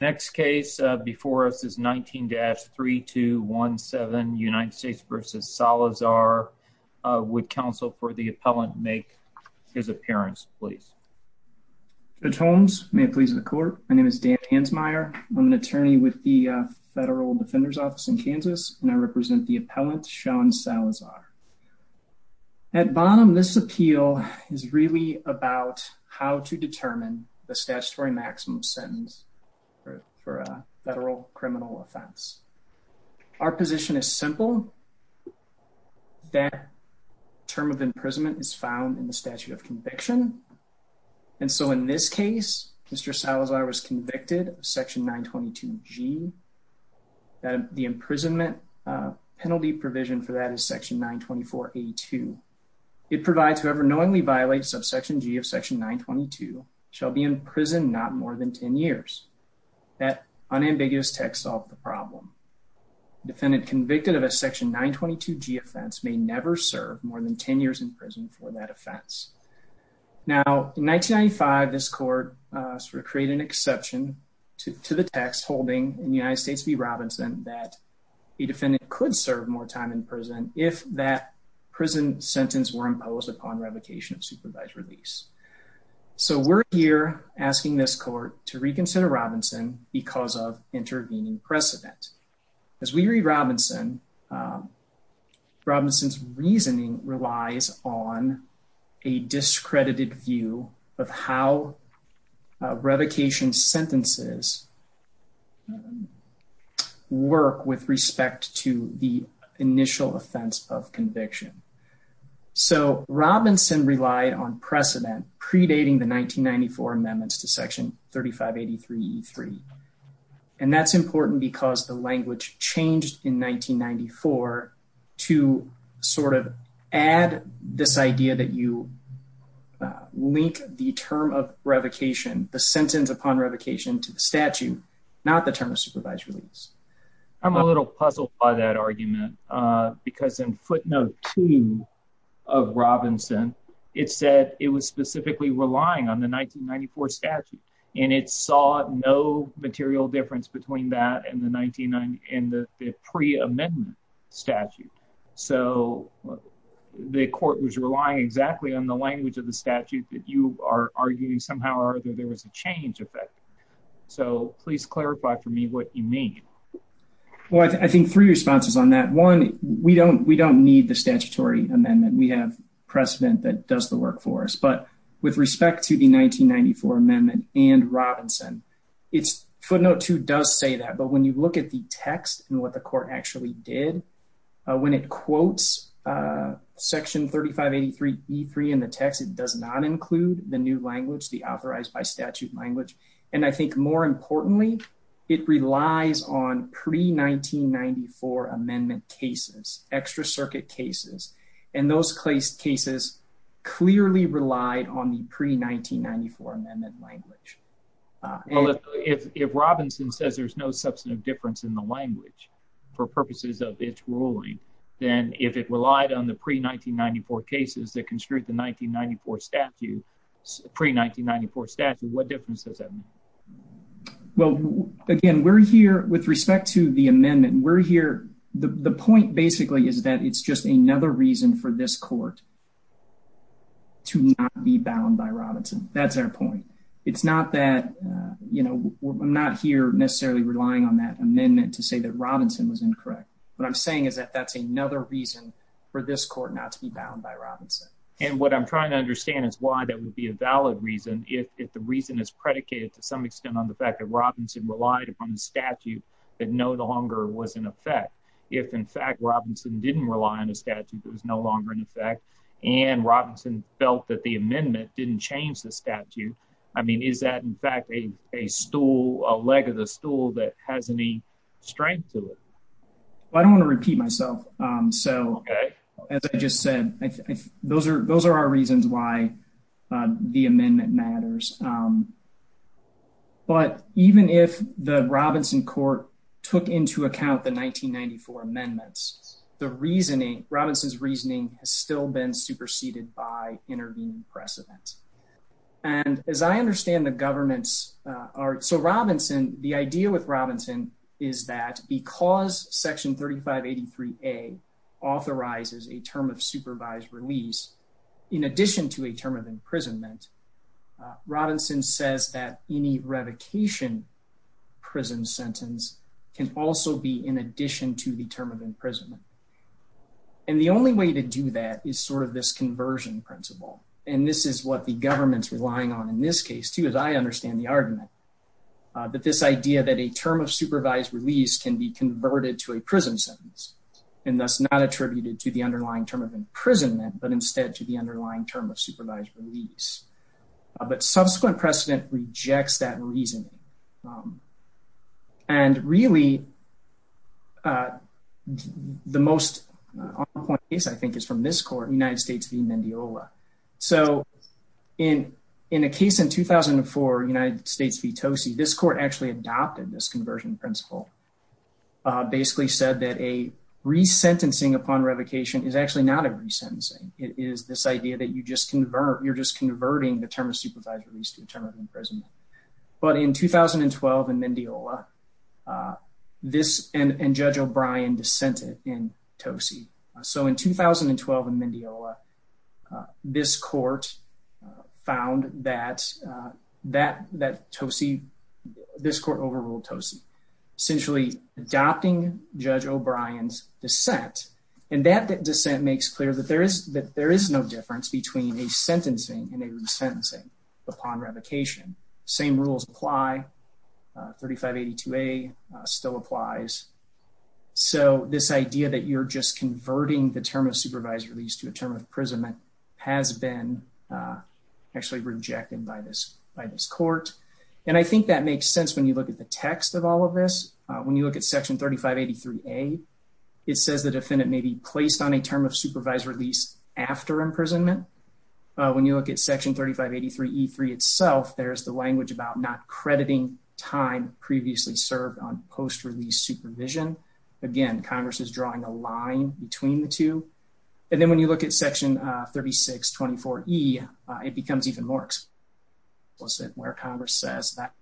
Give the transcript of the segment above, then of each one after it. Next case before us is 19-3217, United States v. Salazar. Would counsel for the appellant make his appearance, please? Judge Holmes, may it please the court, my name is Dan Hansmeier. I'm an attorney with the Federal Defender's Office in Kansas, and I represent the appellant, Sean Salazar. At bottom, this appeal is really about how to for a federal criminal offense. Our position is simple. That term of imprisonment is found in the statute of conviction. And so in this case, Mr. Salazar was convicted of Section 922g. The imprisonment penalty provision for that is Section 924a-2. It provides whoever knowingly violates subsection g of Section 922 shall be in prison not more than 10 years. That unambiguous text solved the problem. Defendant convicted of a Section 922g offense may never serve more than 10 years in prison for that offense. Now, in 1995, this court sort of created an exception to the text holding in United States v. Robinson that a defendant could serve more time in prison if that prison sentence were imposed upon revocation of supervised release. So we're here asking this court to reconsider Robinson because of intervening precedent. As we read Robinson, Robinson's reasoning relies on a discredited view of how revocation sentences work with respect to the initial offense of conviction. So Robinson relied on precedent predating the 1994 amendments to Section 3583e-3. And that's important because the language changed in 1994 to sort of add this idea that you link the term of revocation, the sentence upon revocation to the statute, not the term of supervised release. I'm a little puzzled by that argument because in footnote 2 of Robinson, it said it was in the pre-amendment statute. So the court was relying exactly on the language of the statute that you are arguing somehow or other there was a change effect. So please clarify for me what you mean. Well, I think three responses on that. One, we don't need the statutory amendment. We have precedent that does the work for us. But with respect to the 1994 amendment and Robinson, it's footnote 2 does say that. But when you look at the text and what the court actually did, when it quotes Section 3583e-3 in the text, it does not include the new language, the authorized by statute language. And I think more importantly, it relies on pre-1994 amendment cases, extra circuit cases. And those cases clearly relied on the pre-1994 amendment language. If Robinson says there's no substantive difference in the language for purposes of its ruling, then if it relied on the pre-1994 cases that construed the pre-1994 statute, what difference does that make? Well, again, with respect to the amendment, the point basically is that it's just another reason for this court to not be bound by Robinson. That's our point. It's not that, you know, I'm not here necessarily relying on that amendment to say that Robinson was incorrect. What I'm saying is that that's another reason for this court not to be bound by Robinson. And what I'm trying to understand is why that would be a valid reason if the reason is predicated to some extent on the fact that Robinson relied upon the statute that no longer was in effect. If, in fact, Robinson didn't rely on a statute that was no longer in effect and Robinson felt that the amendment didn't change the statute, I mean, is that, in fact, a stool, a leg of the stool that has any strength to it? I don't want to repeat myself. So, as I just said, those are our reasons why the amendment matters. But even if the Robinson court took into account the 1994 amendments, the reasoning, Robinson's reasoning has still been superseded by intervening precedent. And as I understand the government's, so Robinson, the idea with Robinson is that because section 3583A authorizes a term of supervised release in addition to a term of imprisonment, Robinson says that any revocation prison sentence can also be in addition to the imprisonment. And the only way to do that is sort of this conversion principle. And this is what the government's relying on in this case, too, as I understand the argument, that this idea that a term of supervised release can be converted to a prison sentence and thus not attributed to the underlying term of imprisonment, but instead to the underlying term of supervised release. But subsequent precedent rejects that reasoning. And really, the most on point case, I think, is from this court, United States v. Mendiola. So, in a case in 2004, United States v. Tosi, this court actually adopted this conversion principle, basically said that a resentencing upon revocation is actually not a resentencing. It is this idea that you just convert, you're just converting the term of supervised release to a term of in Tosi. So, in 2012 in Mendiola, this court found that Tosi, this court overruled Tosi, essentially adopting Judge O'Brien's dissent. And that dissent makes clear that there is no difference between a sentencing and a resentencing upon revocation. Same rules apply. 3582A still applies. So, this idea that you're just converting the term of supervised release to a term of imprisonment has been actually rejected by this court. And I think that makes sense when you look at the text of all of this. When you look at section 3583A, it says the defendant may be placed on a term of supervised release after imprisonment. When you look at section 3583E3 there's the language about not crediting time previously served on post-release supervision. Again, Congress is drawing a line between the two. And then when you look at section 3624E, it becomes even more explicit where Congress says that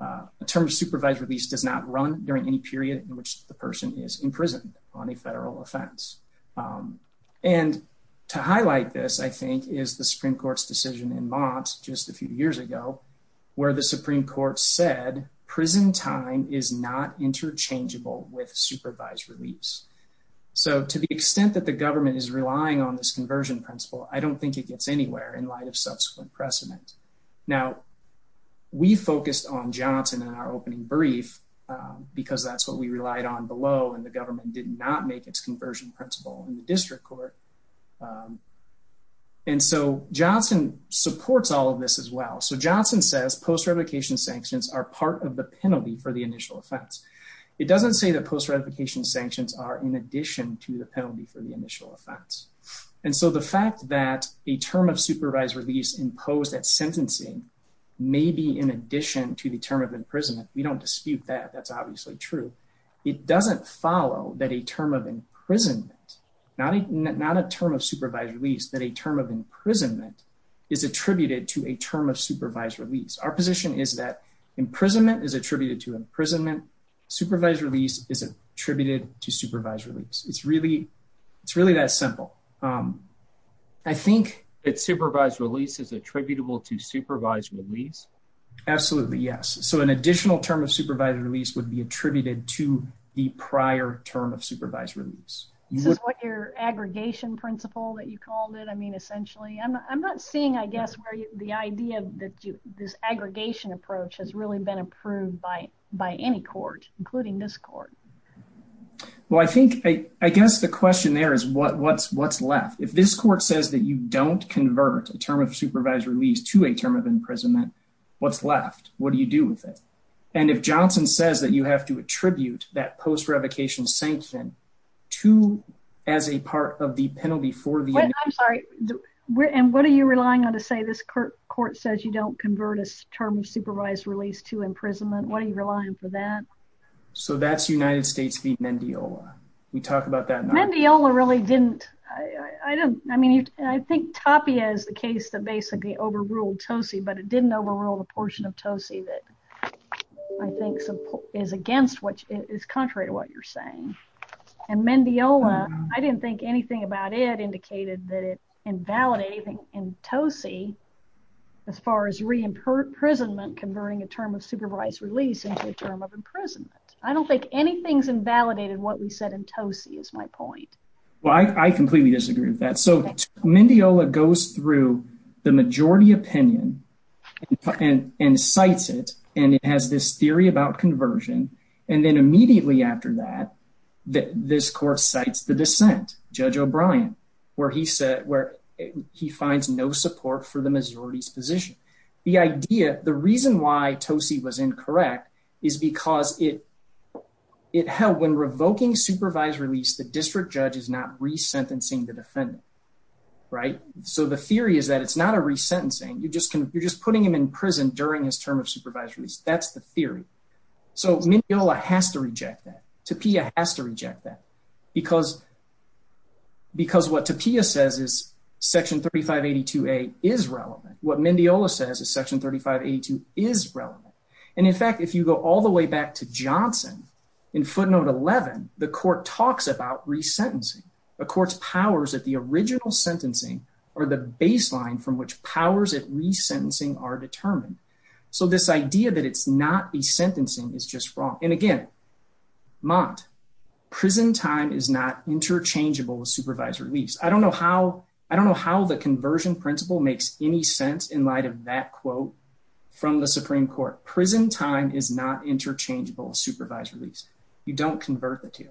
a term of supervised release does not run during any period in which the person is imprisoned on a federal offense. And to highlight this, I think, is the Supreme Court's decision in Mott just a few years ago, where the Supreme Court said prison time is not interchangeable with supervised release. So, to the extent that the government is relying on this conversion principle, I don't think it gets anywhere in light of subsequent precedent. Now, we focused on Johnson in our opening brief because that's what we relied on below and the government did not make its conversion principle in the district court. And so, Johnson supports all of this as well. So, Johnson says post-ratification sanctions are part of the penalty for the initial offense. It doesn't say that post-ratification sanctions are in addition to the penalty for the initial offense. And so, the fact that a term of supervised release imposed at sentencing may be in addition to the term of imprisonment, we don't dispute that. That's obviously true. It doesn't follow that a term of imprisonment, not a term of supervised release, that a term of imprisonment is attributed to a term of supervised release. Our position is that imprisonment is attributed to imprisonment. Supervised release is a attributed to supervised release. It's really that simple. I think that supervised release is attributable to supervised release. Absolutely, yes. So, an additional term of supervised release would be attributed to the prior term supervised release. This is what your aggregation principle that you called it, I mean, essentially. I'm not seeing, I guess, where the idea that this aggregation approach has really been approved by any court, including this court. Well, I think, I guess the question there is what's left. If this court says that you don't convert a term of supervised release to a term of imprisonment, what's left? What do you do with it? And if Johnson says that you have to attribute that post-revocation sanction to, as a part of the penalty for the... I'm sorry, and what are you relying on to say this court says you don't convert a term of supervised release to imprisonment? What are you relying for that? So, that's United States v. Mendiola. We talked about that in our... Mendiola really didn't, I don't, I mean, I think Tapia is the case that basically overruled Tosi, but it didn't overrule the portion of Tosi that I think is against what, is contrary to what you're saying. And Mendiola, I didn't think anything about it indicated that it invalidated anything in Tosi as far as re-imprisonment converting a term of supervised release into a term of imprisonment. I don't think anything's invalidated what we said in Tosi is my point. Well, I completely disagree with that. So, and cites it, and it has this theory about conversion. And then immediately after that, this court cites the dissent, Judge O'Brien, where he said, where he finds no support for the majority's position. The idea, the reason why Tosi was incorrect is because it held when revoking supervised release, the district judge is not re-sentencing the defendant, right? So the theory is that it's not a re-sentencing. You just can, you're just putting him in prison during his term of supervised release. That's the theory. So Mendiola has to reject that. Tapia has to reject that because, because what Tapia says is section 3582A is relevant. What Mendiola says is section 3582 is relevant. And in fact, if you go all the way back to Johnson in footnote 11, the court talks about re-sentencing. The court's at the original sentencing or the baseline from which powers at re-sentencing are determined. So this idea that it's not a sentencing is just wrong. And again, Mott, prison time is not interchangeable with supervised release. I don't know how, I don't know how the conversion principle makes any sense in light of that quote from the Supreme court. Prison time is not interchangeable supervised release. You don't convert the two.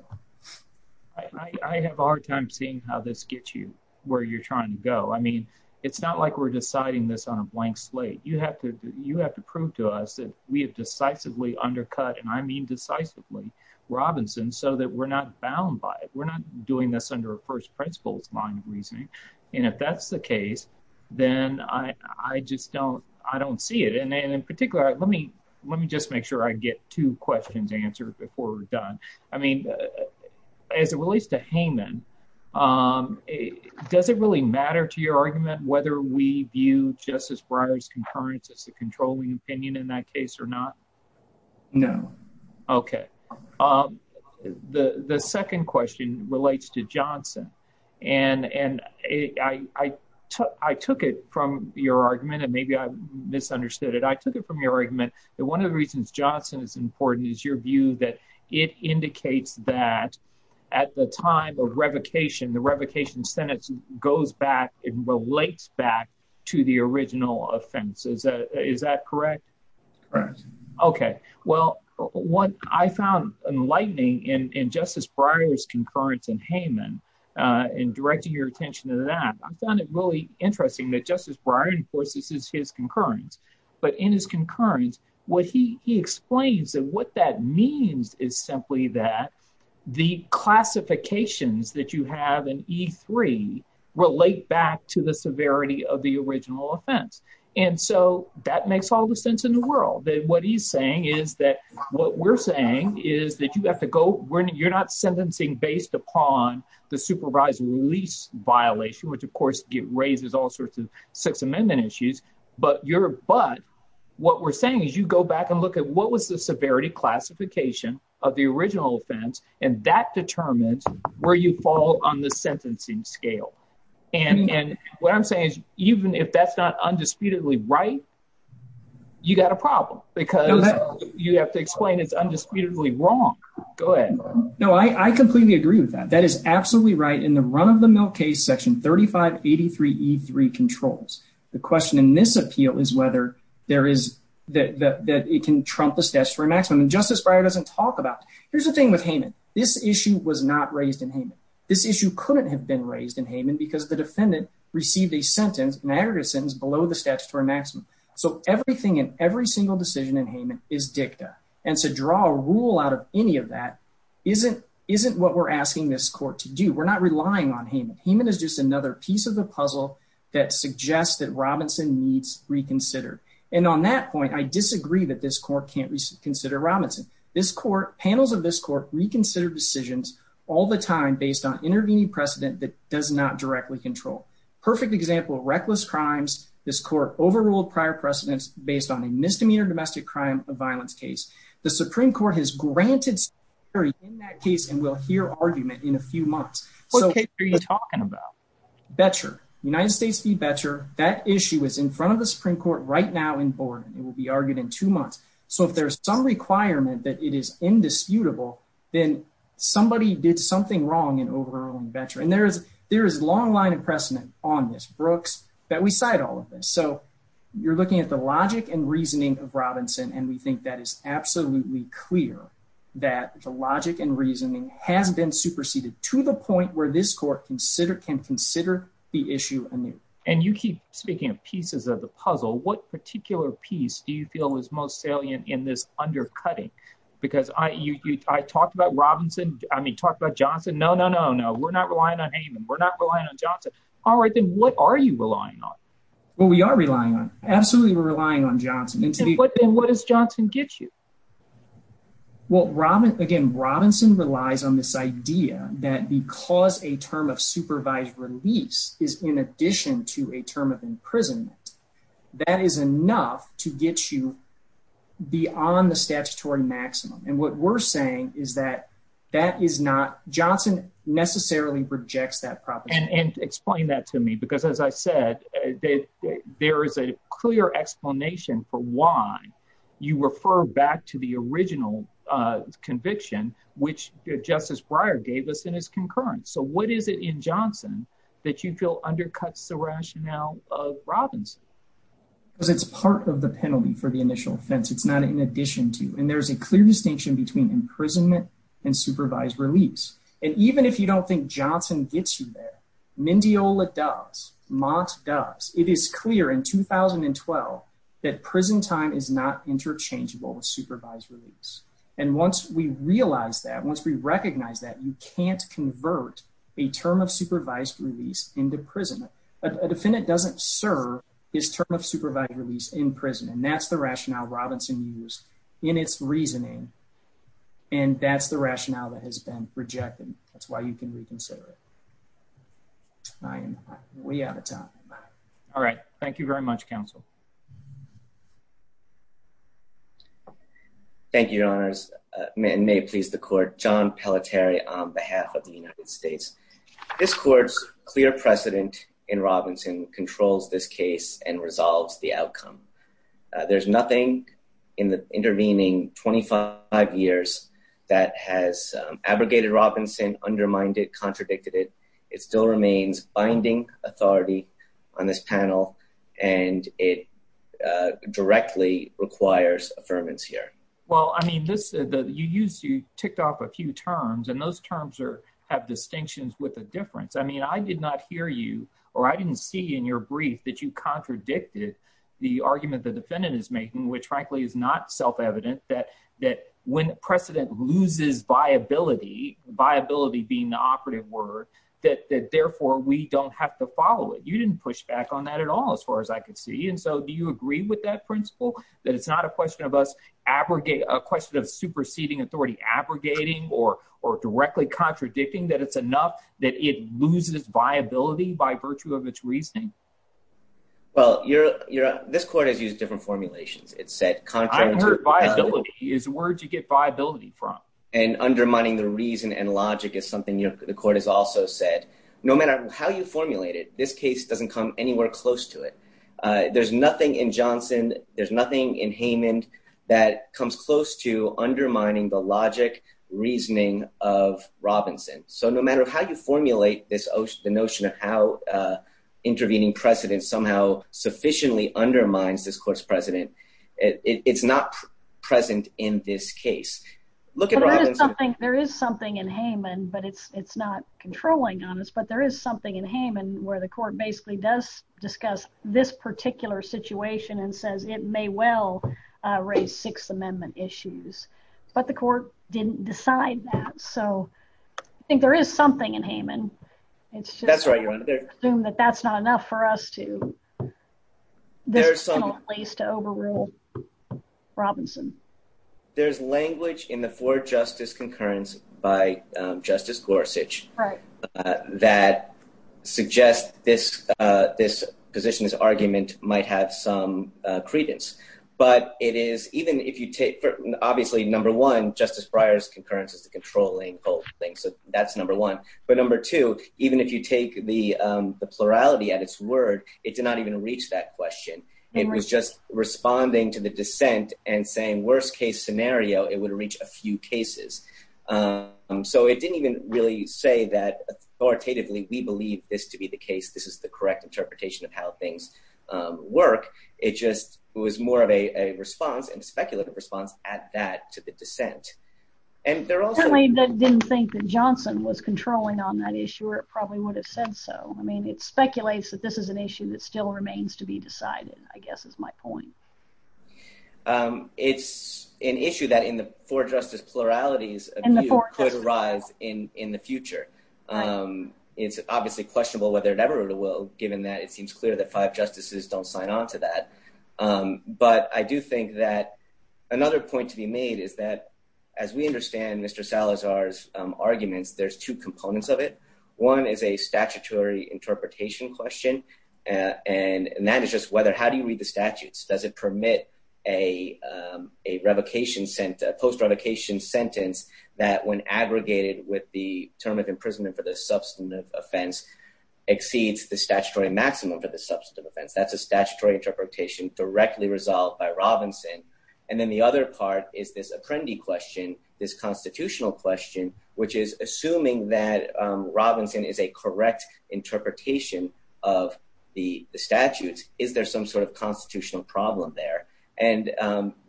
I have a hard time seeing how this gets you where you're trying to go. I mean, it's not like we're deciding this on a blank slate. You have to, you have to prove to us that we have decisively undercut, and I mean decisively, Robinson so that we're not bound by it. We're not doing this under a first principles line of reasoning. And if that's the case, then I, I just don't, I don't see it. And in particular, let me just make sure I get two questions answered before we're done. I mean, as it relates to Hayman, does it really matter to your argument whether we view Justice Breyer's concurrence as the controlling opinion in that case or not? No. Okay. The second question relates to Johnson. And I took it from your argument, and maybe I misunderstood it. I took it from your argument that one of the reasons Johnson is important is your view that it indicates that at the time of revocation, the revocation sentence goes back and relates back to the original offenses. Is that correct? Correct. Okay. Well, what I found enlightening in Justice Breyer's concurrence in Hayman, in directing your attention to that, I found it really interesting that Justice Breyer enforces his concurrence. But in his concurrence, what he explains and what that means is simply that the classifications that you have in E3 relate back to the severity of the original offense. And so that makes all the sense in the world. That what he's saying is that what we're saying is that you have to go, you're not sentencing based upon the supervised release violation, which of course raises all sorts of Sixth Amendment issues. But what we're saying is you go back and look at what was the severity classification of the original offense, and that determines where you fall on the sentencing scale. And what I'm saying is, even if that's not undisputedly right, you got a problem because you have to explain it's undisputedly wrong. Go ahead. No, I completely agree with that. That is absolutely right. In run-of-the-mill case section 3583 E3 controls, the question in this appeal is whether there is that it can trump the statutory maximum. And Justice Breyer doesn't talk about. Here's the thing with Hayman. This issue was not raised in Hayman. This issue couldn't have been raised in Hayman because the defendant received a sentence, an aggregate sentence below the statutory maximum. So everything in every single decision in Hayman is dicta. And to draw a rule out of any of that isn't what we're asking this court to do. We're not relying on Hayman. Hayman is just another piece of the puzzle that suggests that Robinson needs reconsidered. And on that point, I disagree that this court can't reconsider Robinson. This court, panels of this court reconsider decisions all the time based on intervening precedent that does not directly control. Perfect example, reckless crimes. This court overruled prior precedents based on a misdemeanor domestic crime of violence case. The Supreme Court has granted in that case and we'll hear argument in a few months. What case are you talking about? Betcher, United States v. Betcher. That issue is in front of the Supreme Court right now in Borden. It will be argued in two months. So if there's some requirement that it is indisputable, then somebody did something wrong in overruling Betcher. And there is a long line of precedent on this, Brooks, that we cite all of this. So you're looking at the logic and reasoning of Robinson. And we think that is absolutely clear that the logic and reasoning has been superseded to the point where this court can consider the issue anew. And you keep speaking of pieces of the puzzle. What particular piece do you feel is most salient in this undercutting? Because I talked about Robinson. I mean, talked about Johnson. No, no, no, no. We're not relying on Hayman. We're not relying on Johnson. All right, then what are you relying on? Well, we are relying on, absolutely. We're relying on Johnson. And what does Johnson get you? Well, again, Robinson relies on this idea that because a term of supervised release is in addition to a term of imprisonment, that is enough to get you beyond the statutory maximum. And what we're saying is that that is not, Johnson necessarily rejects that proposition. And explain that to me. Because as I said, there is a clear explanation for why you refer back to the original conviction, which Justice Breyer gave us in his concurrence. So what is it in Johnson that you feel undercuts the rationale of Robinson? Because it's part of the penalty for the initial offense. It's not in addition to. And there's a clear distinction between imprisonment and supervised release. And even if you don't think Johnson gets you there, Mendiola does. Mott does. It is clear in 2012 that prison time is not interchangeable with supervised release. And once we realize that, once we recognize that, you can't convert a term of supervised release into prison. A defendant doesn't serve his term of supervised release in prison. And that's the rationale Robinson used in its reasoning. And that's the rationale that has been rejected. That's why you can reconsider it. I am way out of time. All right. Thank you very much, counsel. Thank you, your honors. May it please the court. John Pelletier on behalf of the United States. This court's clear precedent in Robinson controls this case and resolves the outcome. There's nothing in the intervening 25 years that has abrogated Robinson, undermined it, contradicted it. It still remains binding authority on this panel. And it directly requires affirmance here. Well, I mean, you ticked off a few terms and those terms have distinctions with a difference. I mean, I did not hear you or I didn't see in your brief that you contradicted the argument the defendant is making, which frankly is not self-evident that that when precedent loses viability, viability being the operative word, that therefore we don't have to follow it. You didn't push back on that at all, as far as I could see. And so do you agree with that principle, that it's not a question of us abrogate a question of superseding authority, abrogating or, or directly contradicting that it's enough that it loses viability by virtue of its reasoning? Well, you're, you're, this court has used different formulations. It said, is where'd you get viability from and undermining the reason and logic is something the court has also said, no matter how you formulate it, this case doesn't come anywhere close to it. There's nothing in Johnson. There's nothing in Haman that comes close to undermining the logic reasoning of Robinson. So no matter how you formulate this, the notion of how intervening precedent somehow sufficiently undermines this court's president, it's not present in this case. Look at Robinson. There is something in Haman, but it's, it's not particular situation and says it may well raise sixth amendment issues, but the court didn't decide that. So I think there is something in Haman. It's just that's not enough for us to there's some ways to overrule Robinson. There's language in the four justice concurrence by justice Gorsuch that suggest this this position is argument might have some credence, but it is, even if you take, obviously, number one, justice Breyer's concurrence is the controlling whole thing. So that's number one, but number two, even if you take the, the plurality at its word, it did not even reach that question. It was just responding to the dissent and saying worst case scenario, it would reach a few cases. So it didn't even really say that authoritatively, we believe this to be the case. This is the correct interpretation of how things work. It just was more of a response and speculative response at that to the dissent. And they're also, I didn't think that Johnson was controlling on that issue, or it probably would have said so. I mean, it speculates that this is an issue that still remains to be decided, I guess, is my point. It's an issue that in the four justice pluralities could arise in, in the future. It's obviously questionable whether it ever will, given that it seems clear that five justices don't sign on to that. But I do think that another point to be made is that, as we understand Mr. Salazar's arguments, there's two components of it. One is a statutory interpretation question. And that is just whether, how do you read the statutes? Does it permit a revocation, post-revocation sentence that when aggregated with the term of imprisonment for the substantive offense exceeds the statutory maximum for the substantive offense? That's a statutory interpretation directly resolved by Robinson. And then the other part is this apprendi question, this constitutional question, which is assuming that Robinson is a correct interpretation of the statutes, is there some sort of constitutional problem there? And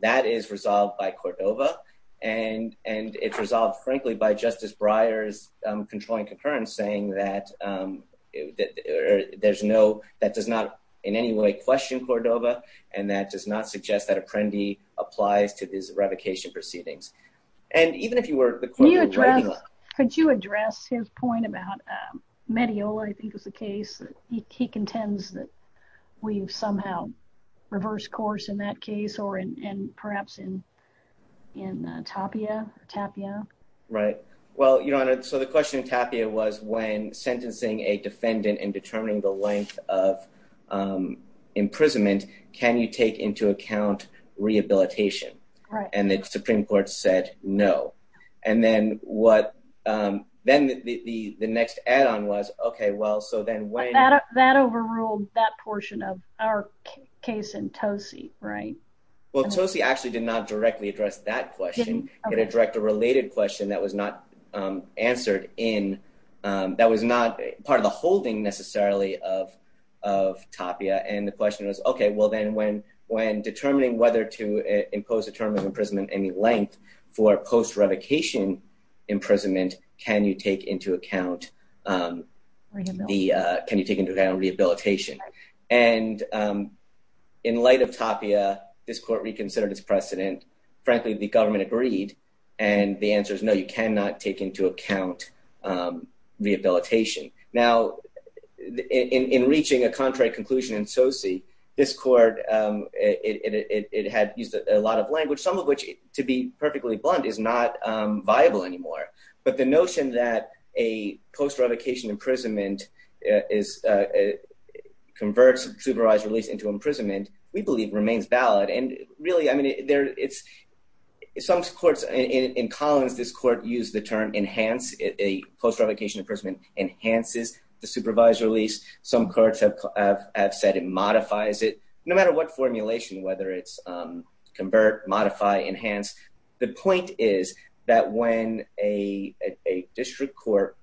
that is resolved by Cordova. And it's resolved, frankly, by Justice Breyer's controlling concurrence saying that there's no, that does not in any way question Cordova, and that does not suggest that apprendi applies to these revocation proceedings. And even if you were... Could you address his point about Mediola, I think was the case, he contends that we've somehow reversed course in that case, or in perhaps in Tapia, Tapia. Right. Well, Your Honor, so the question in Tapia was when sentencing a defendant and determining the length of imprisonment, can you take into account rehabilitation? Right. And the Supreme Court said no. And then what, then the next add-on was, okay, well, so then when... That overruled that portion of our case in Tosi, right? Well, Tosi actually did not directly address that question. It addressed a related question that was not answered in, that was not part of the holding necessarily of Tapia. And the when determining whether to impose a term of imprisonment, any length for post-revocation imprisonment, can you take into account the, can you take into account rehabilitation? And in light of Tapia, this court reconsidered its precedent. Frankly, the government agreed. And the answer is no, you cannot take into account rehabilitation. Now, in reaching a contrary conclusion in Tosi, this court, it had used a lot of language, some of which to be perfectly blunt is not viable anymore. But the notion that a post-revocation imprisonment converts supervised release into imprisonment, we believe remains valid. And really, I mean, it's some courts in Collins, this court used the term enhance, a post-revocation imprisonment enhances the supervised release. Some courts have said it modifies it, no matter what formulation, whether it's convert, modify, enhance. The point is that when a district court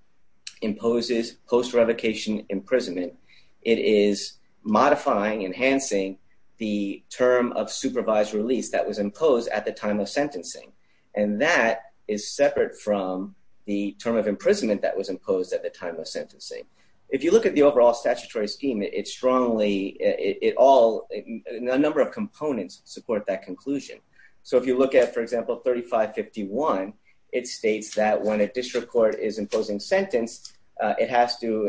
imposes post-revocation imprisonment, it is modifying, enhancing the term of supervised release that was imposed at the time of sentencing. And that is separate from the term of imprisonment that was imposed at the time of sentencing. If you look at the overall statutory scheme, it strongly, it all, a number of components support that conclusion. So if you look at, for example, 3551, it states that when a district court is imposing sentence, it has to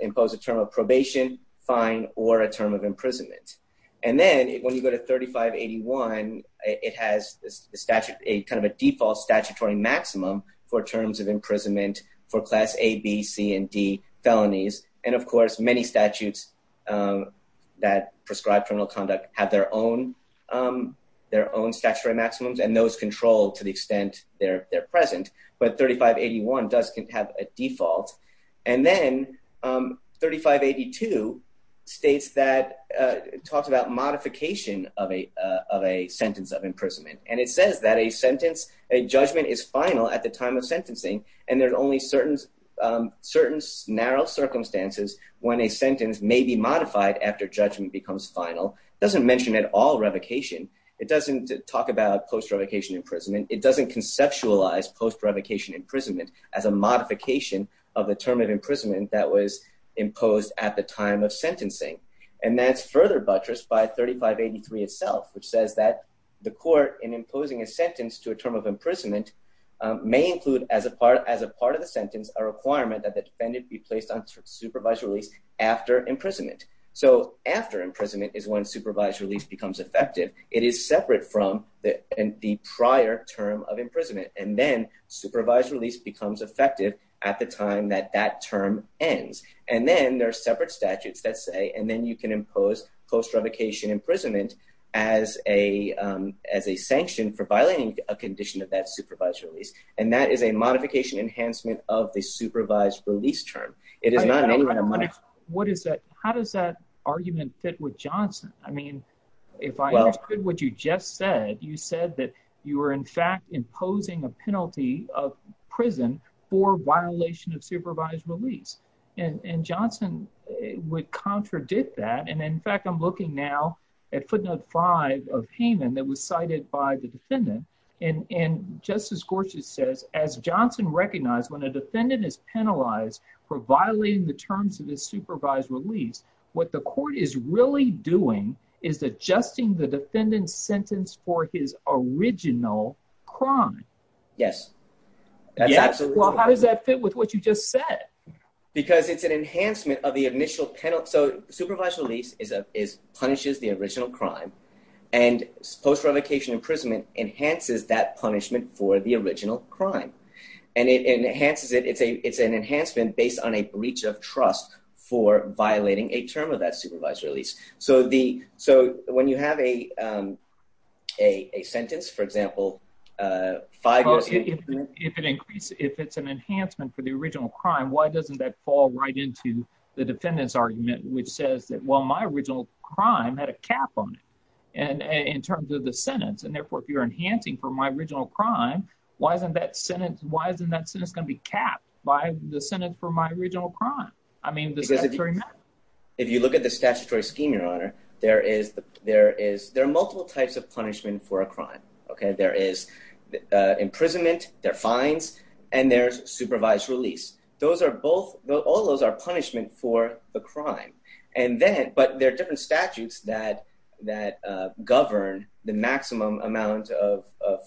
impose a term of probation, fine, or a term of imprisonment. And then when you go to 3581, it has a statute, a kind of a default statutory maximum for terms of imprisonment for class A, B, C, and D felonies. And of course, many statutes that prescribe criminal conduct have their own statutory maximums, and those control to the extent they're present. But 3581 does have a statute. 3582 states that, talks about modification of a sentence of imprisonment. And it says that a sentence, a judgment is final at the time of sentencing, and there's only certain narrow circumstances when a sentence may be modified after judgment becomes final. It doesn't mention at all revocation. It doesn't talk about post-revocation imprisonment. It doesn't conceptualize post-revocation imprisonment as a modification of the term of imprisonment that was imposed at the time of sentencing. And that's further buttressed by 3583 itself, which says that the court in imposing a sentence to a term of imprisonment may include as a part of the sentence, a requirement that the defendant be placed on supervised release after imprisonment. So after imprisonment is when supervised release becomes effective. It is separate from the prior term of imprisonment. And then supervised release becomes effective at the time that that term ends. And then there are separate statutes that say, and then you can impose post-revocation imprisonment as a sanction for violating a condition of that supervised release. And that is a modification enhancement of the supervised release term. It is not in any way a modification. How does that argument fit with Johnson? I mean, if I understood what you just said, you said that you were, in fact, imposing a penalty of prison for violation of supervised release. And Johnson would contradict that. And in fact, I'm looking now at footnote five of Haman that was cited by the defendant. And Justice Gorsuch says, as Johnson recognized when a defendant is penalized for violating the terms of the supervised release, what the court is really doing is adjusting the defendant's sentence for his original crime. Yes. Well, how does that fit with what you just said? Because it's an enhancement of the initial penalty. So supervised release is punishes the original crime. And post-revocation imprisonment enhances that punishment for the original crime. And it enhances it. It's an enhancement based on a breach of trust for violating a term of that supervised release. So when you have a sentence, for example, five years... If it's an enhancement for the original crime, why doesn't that fall right into the defendant's argument, which says that, well, my original crime had a cap on it in terms of the sentence. And therefore, if you're enhancing for my original crime, why isn't that sentence going to be capped by the sentence for my original crime? I mean, does that really matter? If you look at the statutory scheme, Your Honor, there are multiple types of punishment for a crime. There is imprisonment, there are fines, and there's supervised release. All those are punishment for the crime. But there are different statutes that govern the maximum amount of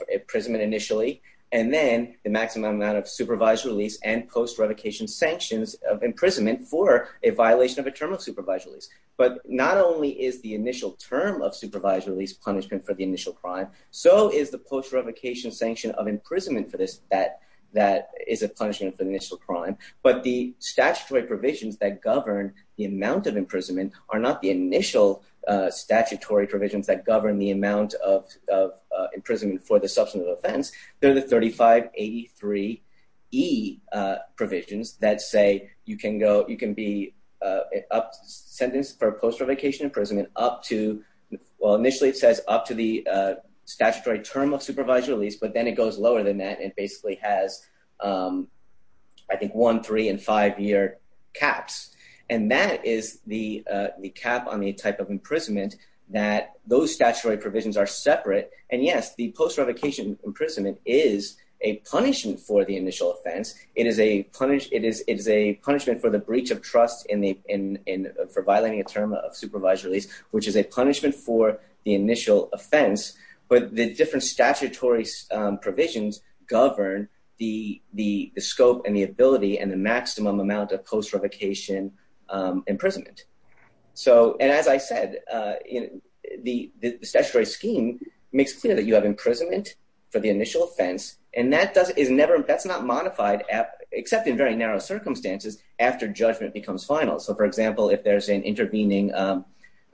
imprisonment initially, and then the maximum amount of supervised release and post-revocation sanctions of imprisonment for a violation of a term of supervised release. But not only is the initial term of supervised release punishment for the initial crime, so is the post-revocation sanction of imprisonment for this, that is a punishment for the initial crime. But the statutory provisions that govern the amount of imprisonment are not the initial statutory provisions that govern the amount of imprisonment for the substantive offense. They're the 3583E provisions that say you can be sentenced for post-revocation imprisonment up to, well, initially it says up to the statutory term of supervised release, but then it goes lower than that. It basically has, I think, one, three, and five year caps. And that is the cap on the type of imprisonment that those statutory provisions are separate. And yes, the post-revocation imprisonment is a punishment for the initial offense. It is a punishment for the breach of trust for violating a term of supervised release, which is a punishment for the initial offense. But the different statutory provisions govern the scope and the ability and the maximum amount of post-revocation imprisonment. And as I said, the statutory scheme makes clear that you have for the initial offense. And that's not modified except in very narrow circumstances after judgment becomes final. So for example, if there's an intervening, an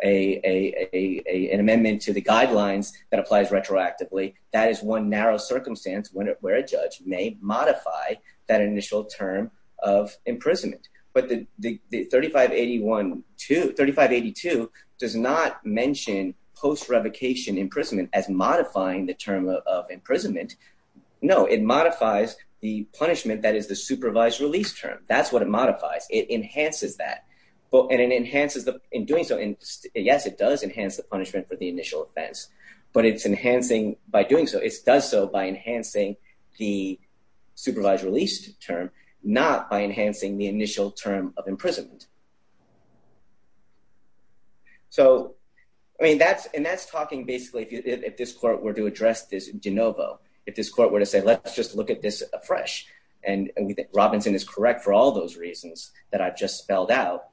amendment to the guidelines that applies retroactively, that is one narrow circumstance where a judge may modify that initial term of imprisonment. But the 3582 does not mention post-revocation imprisonment as modifying the term of imprisonment. No, it modifies the punishment that is the supervised release term. That's what it modifies. It enhances that. And it enhances in doing so, yes, it does enhance the punishment for the initial offense, but it's enhancing by doing so, it does so by enhancing the supervised release term, not by enhancing the initial term of imprisonment. And so that's why I think it's important for us to look at this in a new light. I think it's important for us to look at this in a new light. If this court were to address this de novo, if this court were to say, let's just look at this afresh. And we think Robinson is correct for all those reasons that I've just spelled out.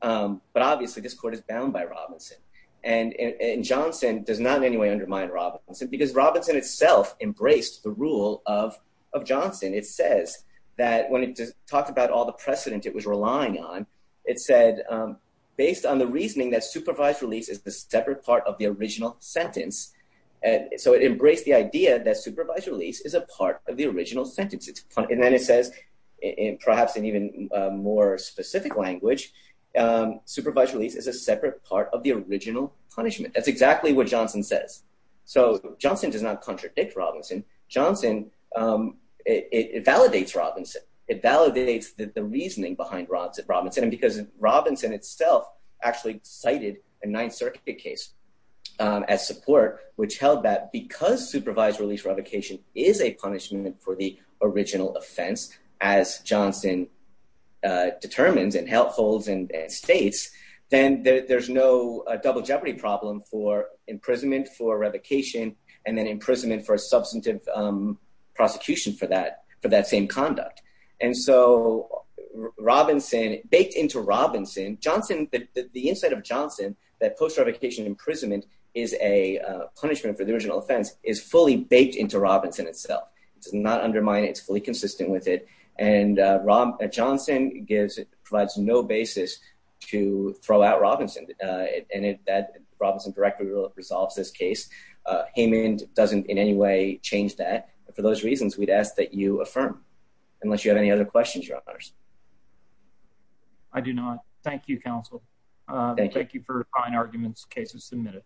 But obviously, this court is bound by Robinson. And Johnson does not in any way undermine Robinson because Robinson itself embraced the rule of Johnson. It says that when it talks about all the precedent it was relying on, it said, based on the reasoning that supervised release is the separate part of the original sentence. And so it embraced the idea that supervised release is a part of the original sentence. And then it says, perhaps in even more specific language, supervised release is a separate part of the original punishment. That's exactly what Johnson says. So Johnson does not contradict Robinson. Johnson validates Robinson. It validates the reasoning behind Robinson. And because Robinson itself actually cited a Ninth Circuit case as support, which held that because supervised release revocation is a punishment for the original offense, as Johnson determines and holds and states, then there's no double jeopardy problem for a substantive prosecution for that same conduct. And so Robinson, baked into Robinson, Johnson, the insight of Johnson, that post-revocation imprisonment is a punishment for the original offense, is fully baked into Robinson itself. It does not undermine it. It's fully consistent with it. And Johnson provides no basis to throw out Robinson. And Robinson directly resolves this case. Haymond doesn't in any way change that. For those reasons, we'd ask that you affirm, unless you have any other questions, your honors. I do not. Thank you, counsel. Thank you for fine arguments, cases submitted.